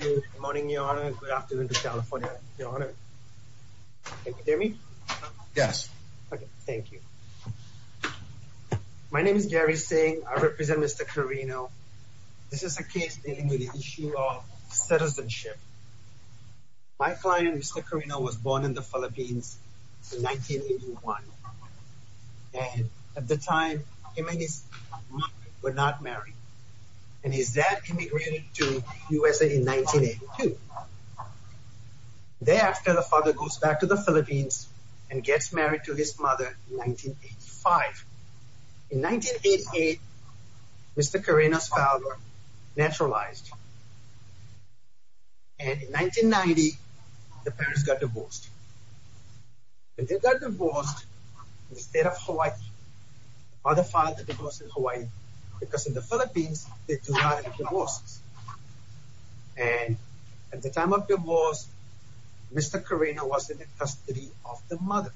Good morning, your honor. Good afternoon to California, your honor. Can you hear me? Yes. Okay, thank you. My name is Gary Singh. I represent Mr. Carino. This is a case dealing with the issue of citizenship. My client, Mr. Carino, was born in the Philippines in 1981, and at the time him and his mother were not married, and his dad immigrated to USA in 1982. Thereafter, the father goes back to the Philippines and gets married to his mother in 1985. In 1988, Mr. Carino's father naturalized, and in 1990, the parents got divorced. They got divorced in the state of Hawaii. The father filed the divorce in Hawaii, because in the Philippines, they do not have divorces. And at the time of divorce, Mr. Carino was in the custody of the mother.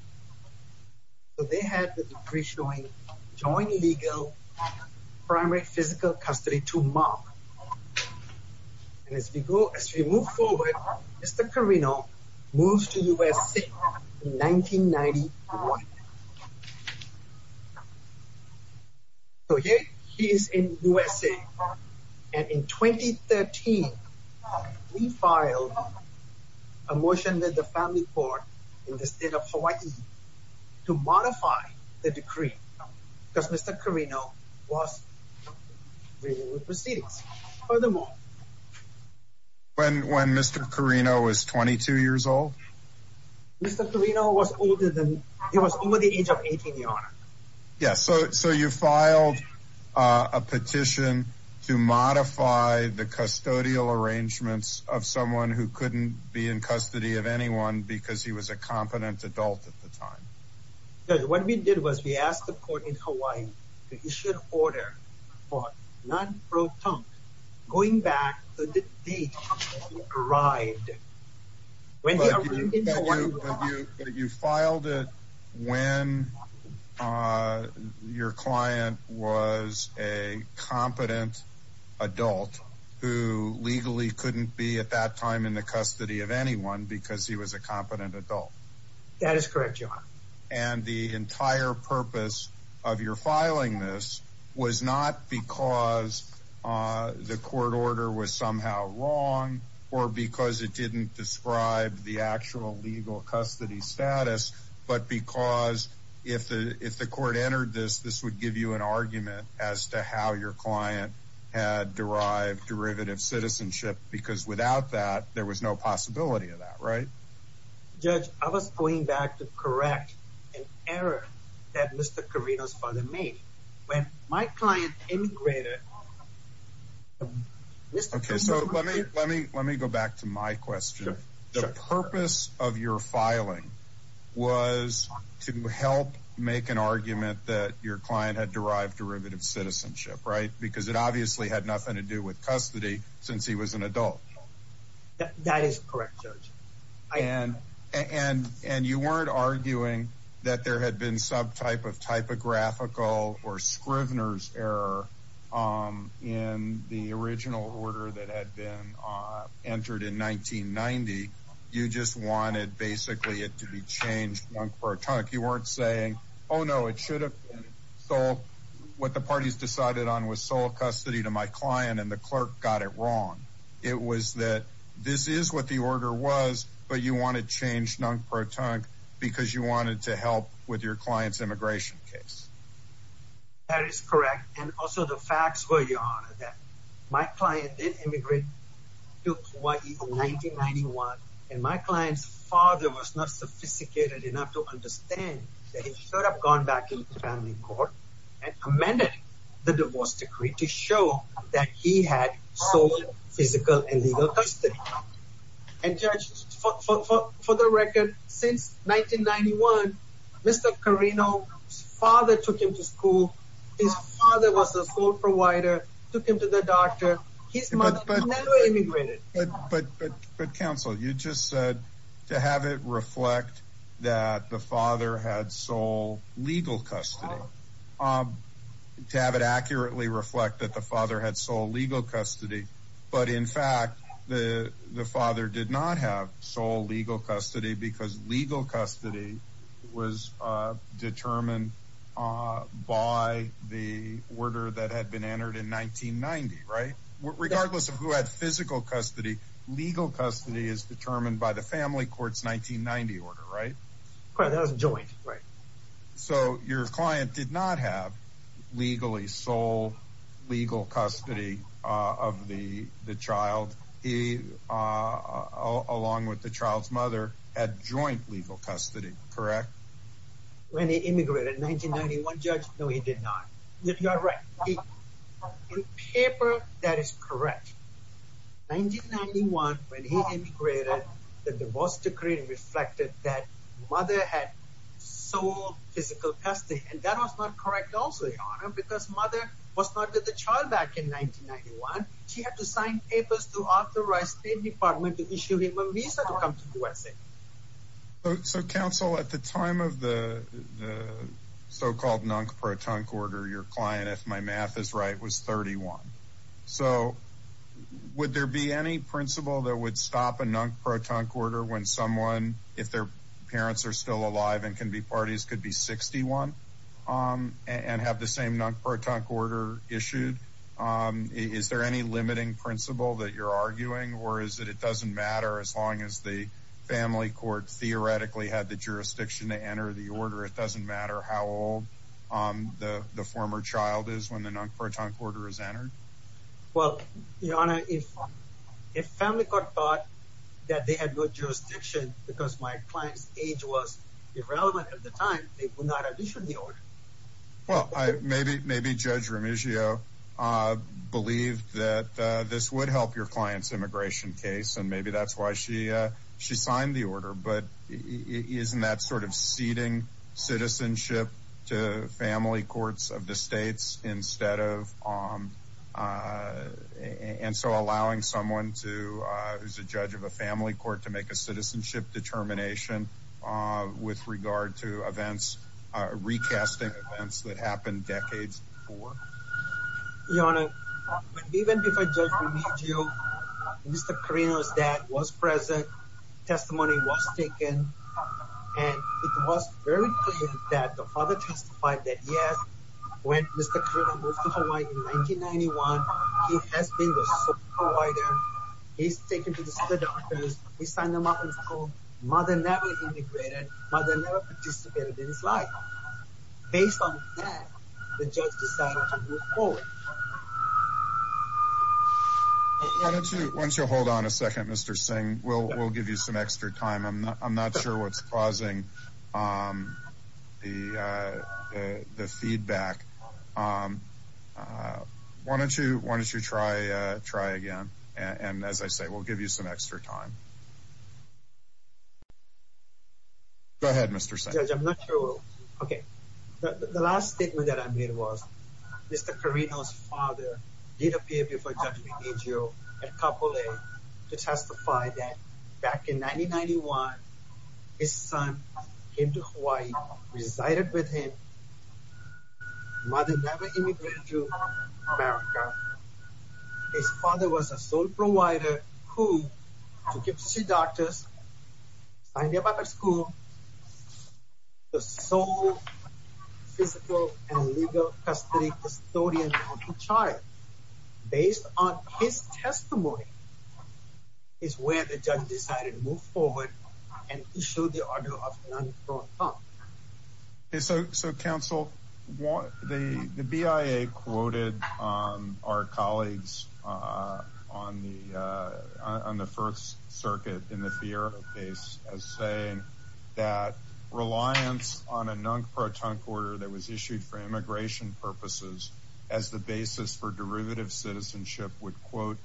So they had the decree showing joint legal primary physical custody to Mark. And as we go, as we move forward, Mr. Carino moves to USA in 1991. Okay, he is in USA, and in 2013, we filed a motion with the family court in the state of Hawaii to modify the decree, because Mr. Carino was dealing with proceedings. Furthermore, when Mr. Carino was 22 years old? Mr. Carino was older than, he was over the age of 18, Your Honor. Yes, so you filed a petition to modify the custodial arrangements of someone who couldn't be in custody of anyone because he was a competent adult at the time. What we did was we asked the court in Hawaii that he should order for non-proton going back to the date arrived. But you filed it when your client was a competent adult who legally couldn't be at that time in the custody of anyone because he was a competent adult. That is correct, Your Honor. And the entire purpose of your filing this was not because the court order was somehow wrong, or because it didn't describe the actual legal custody status, but because if the court entered this, this would give you an argument as to how your client had derived derivative citizenship. Because without that, there was no possibility of that, right? Judge, I was going back to correct an error that Mr. Carino's father made when my client immigrated. Okay, so let me go back to my question. The purpose of your filing was to help make an argument that your client had derived derivative citizenship, right? Because it obviously had nothing to do with custody since he was an adult. That is correct, Judge. And you weren't arguing that there had been some type of typographical or Scrivener's error in the original order that had been entered in 1990. You just wanted basically it to be changed non-protonically. You weren't saying, oh no, it should have been. So what the parties decided on was sole custody to my client and the clerk got it wrong. It was that this is what the order was, but you want to change non-protonically because you wanted to help with your client's immigration case. That is correct. And also the facts were your honor that my client did immigrate to Kauai in 1991. And my client's father was not sophisticated enough to understand that he should have gone back into the family court and amended the divorce decree to show that he had sole physical and legal custody. And Judge, for the record, since 1991, Mr. Carino's father took him to school. His father was the sole provider, took him to the doctor. His mother immigrated. But counsel, you just said to have it reflect that the father had sole legal custody, to have it accurately reflect that the father had sole legal custody. But in fact, the father did not have sole legal custody because legal custody was determined by the order that had been entered in 1990, right? Regardless of who had physical custody, legal custody is determined by the family court's 1990 order, right? That was joint, right? So your client did not have legally sole legal custody of the child. He, along with the child's mother, had joint legal custody, correct? When he immigrated in 1991, Judge? No, he did not. You're right. In paper, that is correct. 1991, when he immigrated, the divorce decree reflected that mother had sole physical custody. And that was not correct also, Your Honor, because mother was not with the child back in 1991. She had to sign papers to authorize State Department to issue him a visa to come to USA. But so, counsel, at the time of the so-called non-protonc order, your client, if my math is right, was 31. So would there be any principle that would stop a non-protonc order when someone, if their parents are still alive and can be parties, could be 61 and have the same non-protonc order issued? Is there any limiting principle that you're arguing? Or is it it doesn't matter as long as the family court theoretically had the jurisdiction to enter the order? It doesn't matter how old the former child is when the non-protonc order is entered? Well, Your Honor, if family court thought that they had good jurisdiction because my client's age was irrelevant at the time, they would not have issued the order. Well, maybe Judge Remigio believed that this would help your client's immigration case, and maybe that's why she signed the order. But isn't that sort of ceding citizenship to family courts of the states instead of... And so allowing someone who's a judge of a family court to make a citizenship determination with regard to recasting events that happened decades before? Your Honor, even before Judge Remigio, Mr. Carino's dad was present, testimony was taken, and it was very clear that the father testified that yes, when Mr. Carino moved to Hawaii in 1991, he has been the sole provider. He's taken to the other doctors. He signed them up in school. Mother never immigrated. Mother never participated in his life. Based on that, the judge decided to move forward. Why don't you hold on a second, Mr. Singh? We'll give you some extra time. I'm not sure what's causing the feedback. Why don't you try again? And as I say, we'll give you some extra time. Go ahead, Mr. Singh. Judge, I'm not sure. Okay. The last statement that I made was Mr. Carino's father did appear before Judge Remigio at Kapolei to testify that back in 1991, his son came to Hawaii, resided with him. Mother never immigrated to America. His father was the sole provider who took him to the doctors, signed him up at school, the sole physical and legal custody custodian of the child. Based on his testimony is where the judge decided to move forward and issue the order of non-pro-tunk. So, counsel, the BIA quoted our colleagues on the First Circuit in the FIERA case as saying that reliance on a non-pro-tunk order that was issued for immigration purposes as the basis for derivative citizenship would, quote,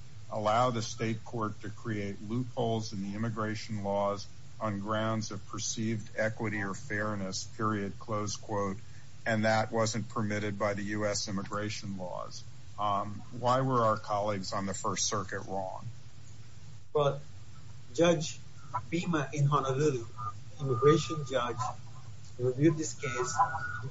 on grounds of perceived equity or fairness, period, close quote, and that wasn't permitted by the U.S. immigration laws. Why were our colleagues on the First Circuit wrong? Well, Judge Bhima in Honolulu, immigration judge, reviewed this case,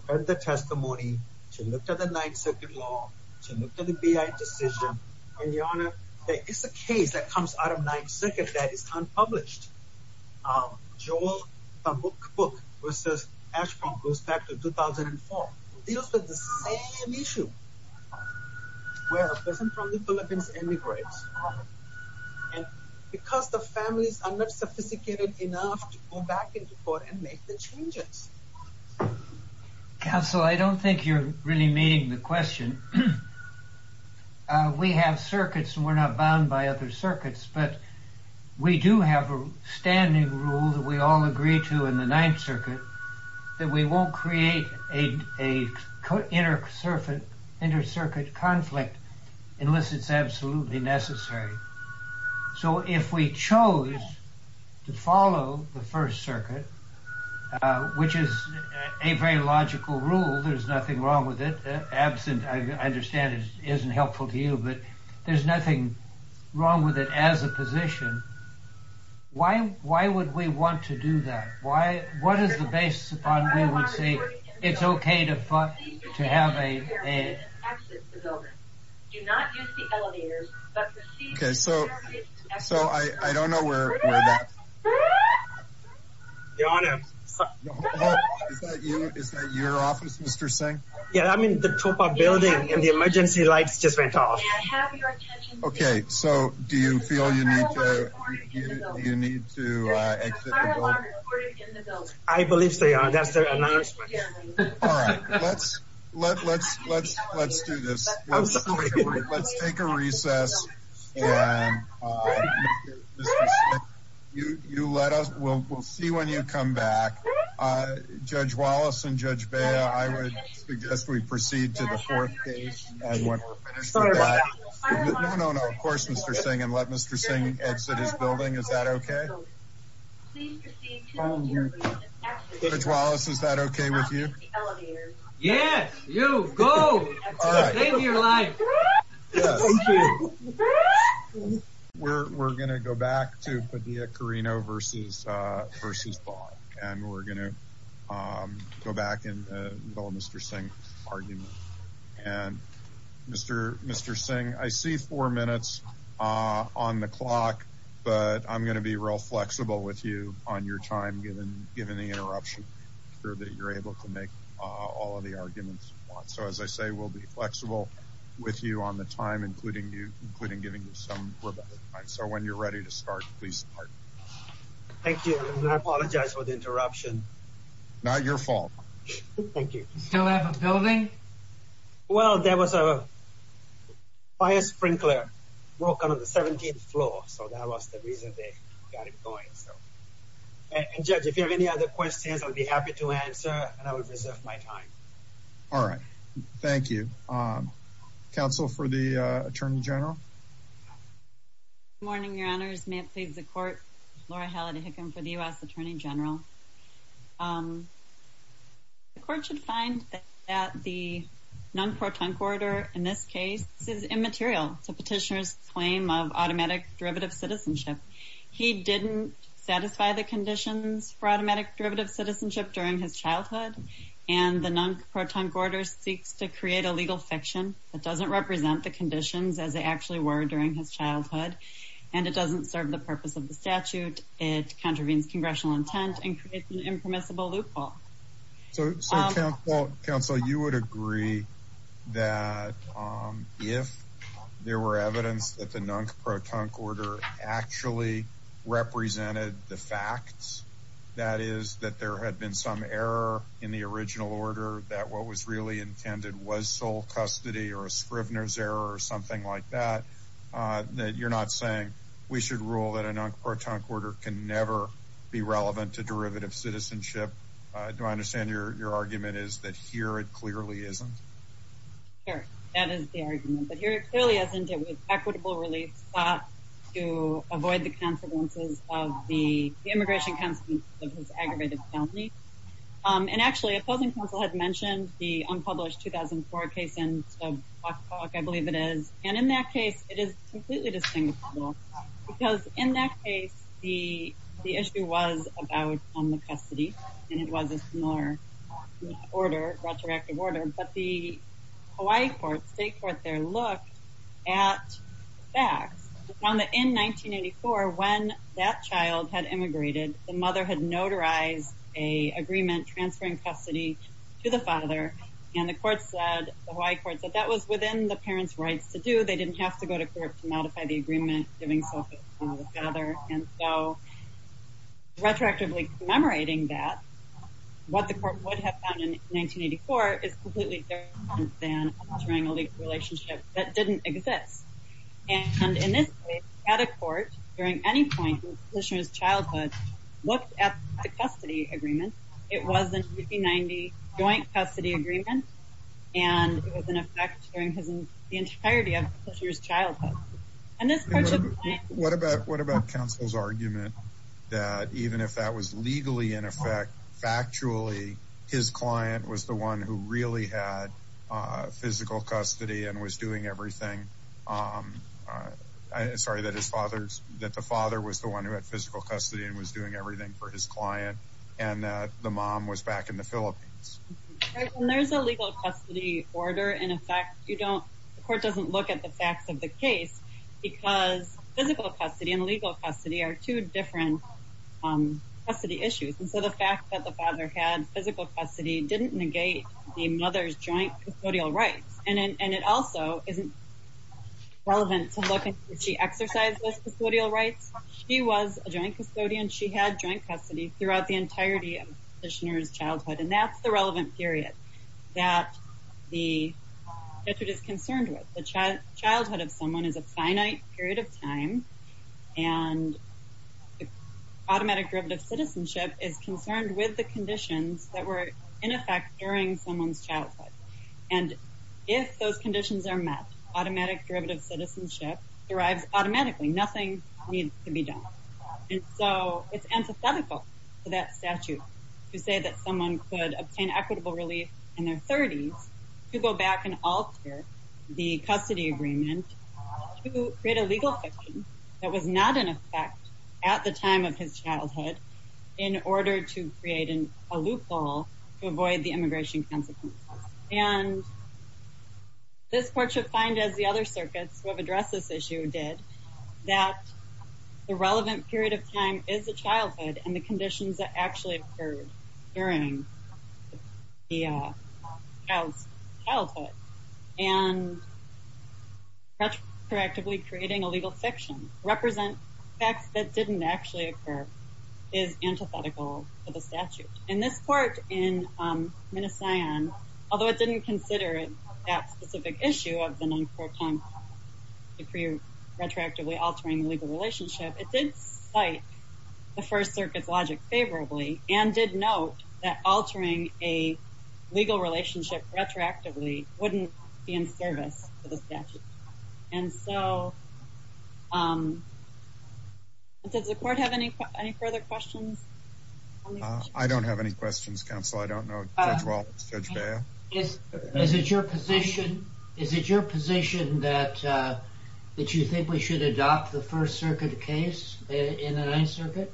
read the testimony, she looked at the Ninth Circuit law, she looked at the BIA decision, and, Your Honor, it's a case that comes out of Ninth Circuit that is unpublished. Joel, the book, which says Ashby goes back to 2004, deals with the same issue where a person from the Philippines emigrates and because the families are not sophisticated enough to go back into court and make the changes. Counsel, I don't think you're really meeting the question. We have circuits and we're not bound by other circuits, but we do have a standing rule that we all agree to in the Ninth Circuit that we won't create an inter-circuit conflict unless it's absolutely necessary. So if we chose to follow the First Circuit, which is a very logical rule, there's nothing wrong with it. Absent, I understand, isn't helpful to you, but there's nothing wrong with it as a position. Why would we want to do that? What is the basis upon which we would say it's okay to have a... Do not use the elevator. Okay, so I don't know where that... Your Honor... Is that your office, Mr. Singh? Yeah, I'm in the Topa building and the emergency lights just went off. Okay, so do you feel you need to exit the building? I believe so, Your Honor. That's their announcement. All right, let's do this. Let's take a recess and we'll see when you come back. Judge Wallace and Judge Bea, I would suggest we proceed to the fourth case and when we're finished with that. No, no, no, of course, Mr. Singh, and let Mr. Singh exit his building. Is that okay? Please proceed to the... Judge Wallace, is that okay with you? Yes, you, go, save your life. We're going to go back to Padilla-Carrino versus Bogg and we're going to go back in the with you on your time given the interruption. Make sure that you're able to make all of the arguments you want. So as I say, we'll be flexible with you on the time, including giving you some rebuttal time. So when you're ready to start, please start. Thank you. I apologize for the interruption. Not your fault. Thank you. You still have a building? Well, there was a fire on the 17th floor, so that was the reason they got it going. And Judge, if you have any other questions, I'll be happy to answer and I will reserve my time. All right. Thank you. Counsel for the Attorney General? Good morning, Your Honors. May it please the Court. Laura Halliday Hickam for the U.S. Attorney General. The Court should find that the non-protonc order in this derivative citizenship. He didn't satisfy the conditions for automatic derivative citizenship during his childhood. And the non-protonc order seeks to create a legal fiction that doesn't represent the conditions as they actually were during his childhood. And it doesn't serve the purpose of the statute. It contravenes congressional intent and creates an impermissible loophole. So, Counsel, you would agree that if there were evidence that the non-protonc order actually represented the facts, that is, that there had been some error in the original order, that what was really intended was sole custody or a Scrivener's error or something like that, that you're not saying we should rule that a non-protonc order can never be relevant to your case? Because I understand your argument is that here it clearly isn't. Sure. That is the argument. But here it clearly isn't. It was equitable relief sought to avoid the consequences of the immigration consequences of his aggravated felony. And actually, Opposing Counsel had mentioned the unpublished 2004 case in the book, I believe it is. And in that case, it is completely distinguishable. Because in that case, the issue was about the custody. And it was a similar order, retroactive order. But the Hawaii court, state court there, looked at facts. They found that in 1984, when that child had immigrated, the mother had notarized a agreement transferring custody to the father. And the court said, the Hawaii court said that was within the parents' rights to do. They didn't have to go to court to modify the agreement giving the father. And so, retroactively commemorating that, what the court would have found in 1984 is completely different than entering a legal relationship that didn't exist. And in this case, at a court, during any point in the petitioner's childhood, looked at the custody agreement. It was a 1990 joint custody agreement. And it was in effect the entirety of the petitioner's childhood. And this particular point... What about counsel's argument that even if that was legally in effect, factually, his client was the one who really had physical custody and was doing everything? Sorry, that the father was the one who had physical custody and was doing everything for his client. And the mom was back in the Philippines. There's a legal custody order. In effect, the court doesn't look at the facts of the case because physical custody and legal custody are two different custody issues. And so, the fact that the father had physical custody didn't negate the mother's joint custodial rights. And it also isn't relevant to look at if she exercised those custodial rights. She was a joint custodian. She had joint custody throughout the entirety of the petitioner's childhood. And that's the relevant period that the statute is concerned with. The childhood of someone is a finite period of time. And automatic derivative citizenship is concerned with the conditions that were in effect during someone's childhood. And if those conditions are met, automatic derivative citizenship arrives automatically. Nothing needs to be done. And so, it's antithetical to that statute to say that someone could obtain equitable relief in their 30s to go back and alter the custody agreement to create a legal fiction that was not in effect at the time of his childhood in order to create a loophole to avoid the immigration consequences. And this court should find, as the other circuits who have addressed this issue did, that the relevant period of time is the childhood and the conditions that actually occurred during the child's childhood. And retroactively creating a legal fiction represent facts that didn't actually occur is antithetical to the statute. In this court in Minnesota, although it didn't consider it that specific issue of the non-court time period retroactively altering the legal relationship, it did cite the First Circuit's logic favorably and did note that altering a legal relationship retroactively wouldn't be in service to the statute. And so, does the court have any further questions? I don't have any questions, counsel. I don't know. Judge Walton? Judge Bair? Is it your position that you think we should adopt the First Circuit case in the Ninth Circuit?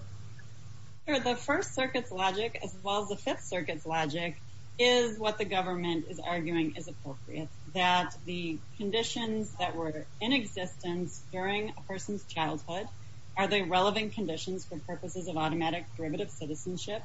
The First Circuit's logic, as well as the Fifth Circuit's logic, is what the government is arguing is appropriate. That the conditions that were in existence during a person's childhood are the relevant conditions for purposes of automatic derivative citizenship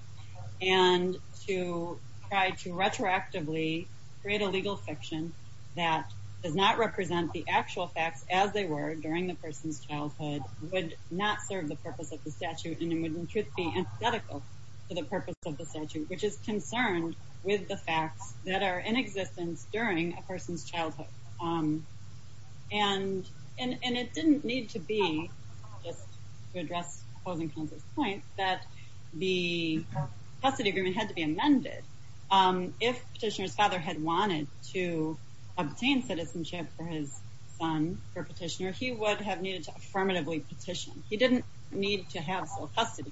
and to try to retroactively create a legal fiction that does not represent the actual facts as they were during the person's childhood would not serve the purpose of the statute and would, in truth, be antithetical to the purpose of the statute, which is concerned with the facts that are in existence during a person's childhood. And it didn't need to be, just to address opposing counsel's point, that the custody agreement had to be amended. If petitioner's father had wanted to obtain citizenship for his son, for petitioner, he would have needed to affirmatively petition. He didn't need to have sole custody.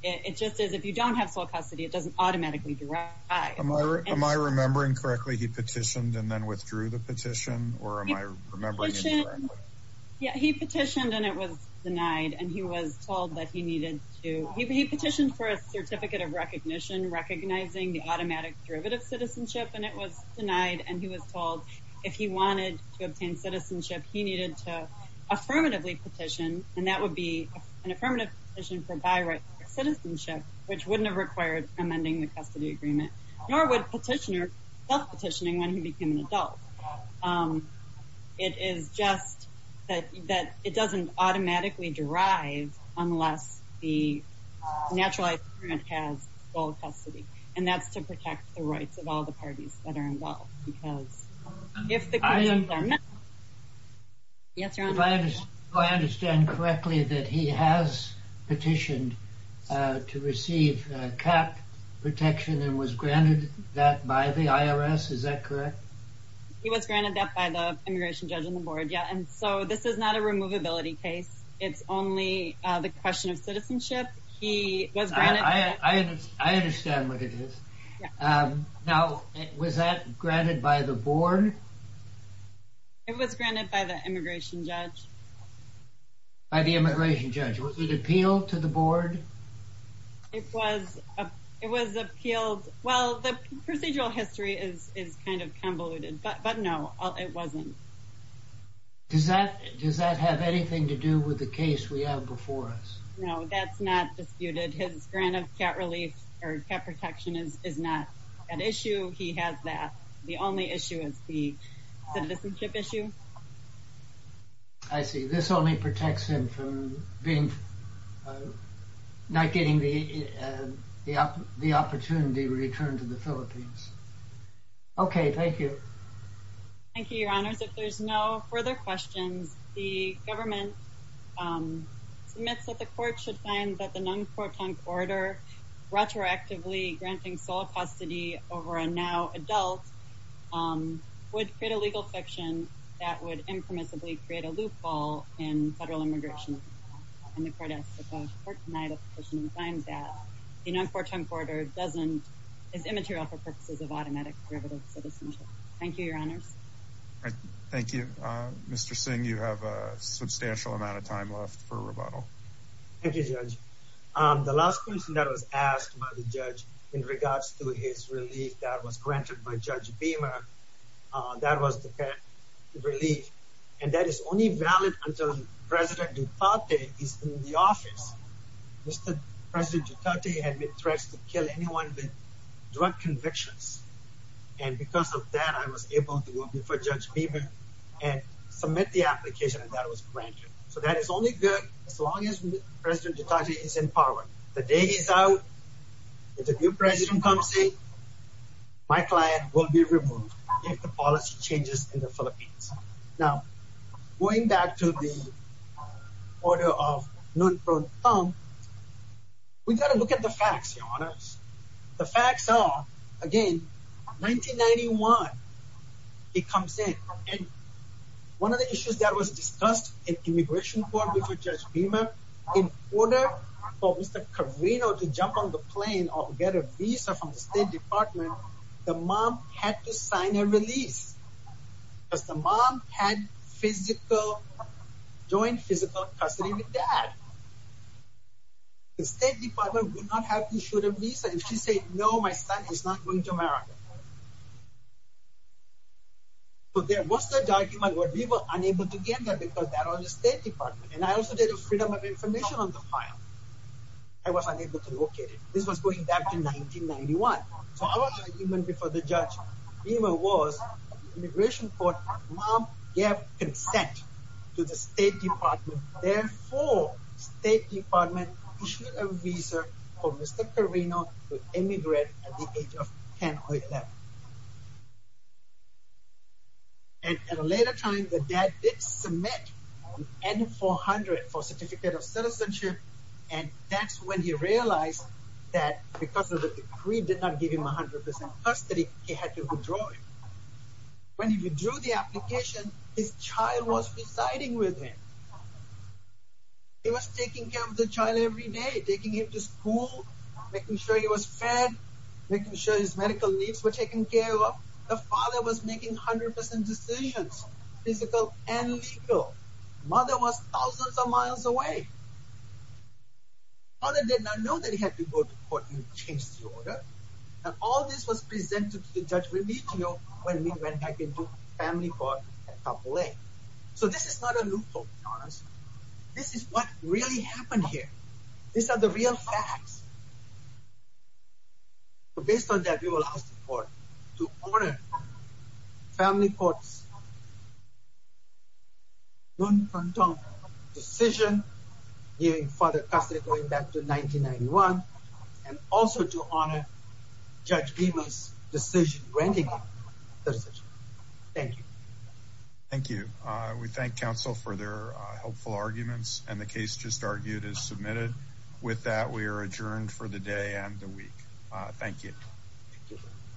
It just is, if you don't have sole custody, it doesn't automatically derive. Am I remembering correctly, he petitioned and then withdrew the petition? Or am I remembering it correctly? Yeah, he petitioned and it was denied and he was told that he needed to, he petitioned for a certificate of recognition recognizing the automatic derivative citizenship and it was denied and he was told if he wanted to obtain citizenship, he needed to affirmatively petition and that would be an affirmative petition for bi-racial citizenship, which wouldn't have required amending the custody agreement, nor would petitioner self-petitioning when he became an adult. It is just that it doesn't automatically derive unless the naturalized parent has sole custody. And that's to protect the rights of all the parties that are involved because if the conditions are met... Yes, your honor. If I understand correctly, that he has is that correct? He was granted that by the immigration judge on the board, yeah. And so this is not a removability case. It's only the question of citizenship. He was granted... I understand what it is. Now, was that granted by the board? It was granted by the immigration judge. By the immigration judge. Was it appealed to the board? It was appealed. Well, the procedural history is kind of convoluted, but no, it wasn't. Does that have anything to do with the case we have before us? No, that's not disputed. His grant of cat relief or cat protection is not an issue. He has that. The only issue is the citizenship issue. I see. This only protects him from not getting the opportunity returned to the Philippines. Okay, thank you. Thank you, your honors. If there's no further questions, the government submits that the court should find that the non-quotation order retroactively granting sole custody over a now adult would create a legal fiction that would impermissibly create a loophole in federal immigration. And the court asks that the court deny the petition and find that the non-quotation order is immaterial for purposes of automatic derivative citizenship. Thank you, your honors. Thank you. Mr. Singh, you have a substantial amount of time left for rebuttal. Thank you, Judge. The last question that was asked by the judge in regards to his relief that was granted by Judge Beamer, that was the cat relief. And that is only valid until President Duterte is in the office. Mr. President Duterte had been threatened to kill anyone with drug convictions. And because of that, I was able to go before Judge Beamer and submit the application that was granted. So that is only good as long as President Duterte is in power. The day is out. If the new president comes in, my client will be removed if the policy changes in the Philippines. Now, going back to the order of Nguyen Phuong Tong, we've got to look at the facts, your honors. The facts are, again, 1991, he comes in. And one of the issues that was discussed in immigration court before Judge Beamer in order for Mr. Carino to jump on the plane or get a visa from the State Department, the mom had to sign a release. Because the mom had physical, joint physical custody with dad. The State Department would not have to shoot a visa if she said, no, my son is not going to America. But there was the argument where we were unable to get that because that was the information on the file. I was unable to locate it. This was going back to 1991. So our argument before the judge Beamer was immigration court mom gave consent to the State Department. Therefore, State Department issued a visa for Mr. Carino to emigrate at the age of 10 or 11. And at a later time, the dad did submit an N-400 for certificate of citizenship. And that's when he realized that because of the decree did not give him 100% custody, he had to withdraw it. When he withdrew the application, his child was residing with him. He was taking care of the child every day, taking him to school, making sure he was fed, making sure his medical needs were taken care of. The father was making 100% decisions, physical and legal. Mother was thousands of miles away. Mother did not know that he had to go to court and change the order. And all this was presented to the judge when we went back into family court at Kapolei. So this is not a loophole, to be honest. This is what really happened here. These are the real facts. Based on that, we will ask the court to honor Family Court's Nguyen Van Tong decision, giving father custody going back to 1991, and also to honor Judge Beamer's decision, granting him citizenship. Thank you. Thank you. We thank counsel for their helpful arguments and the case just argued is submitted. With that, we are adjourned for the day and the week. Thank you.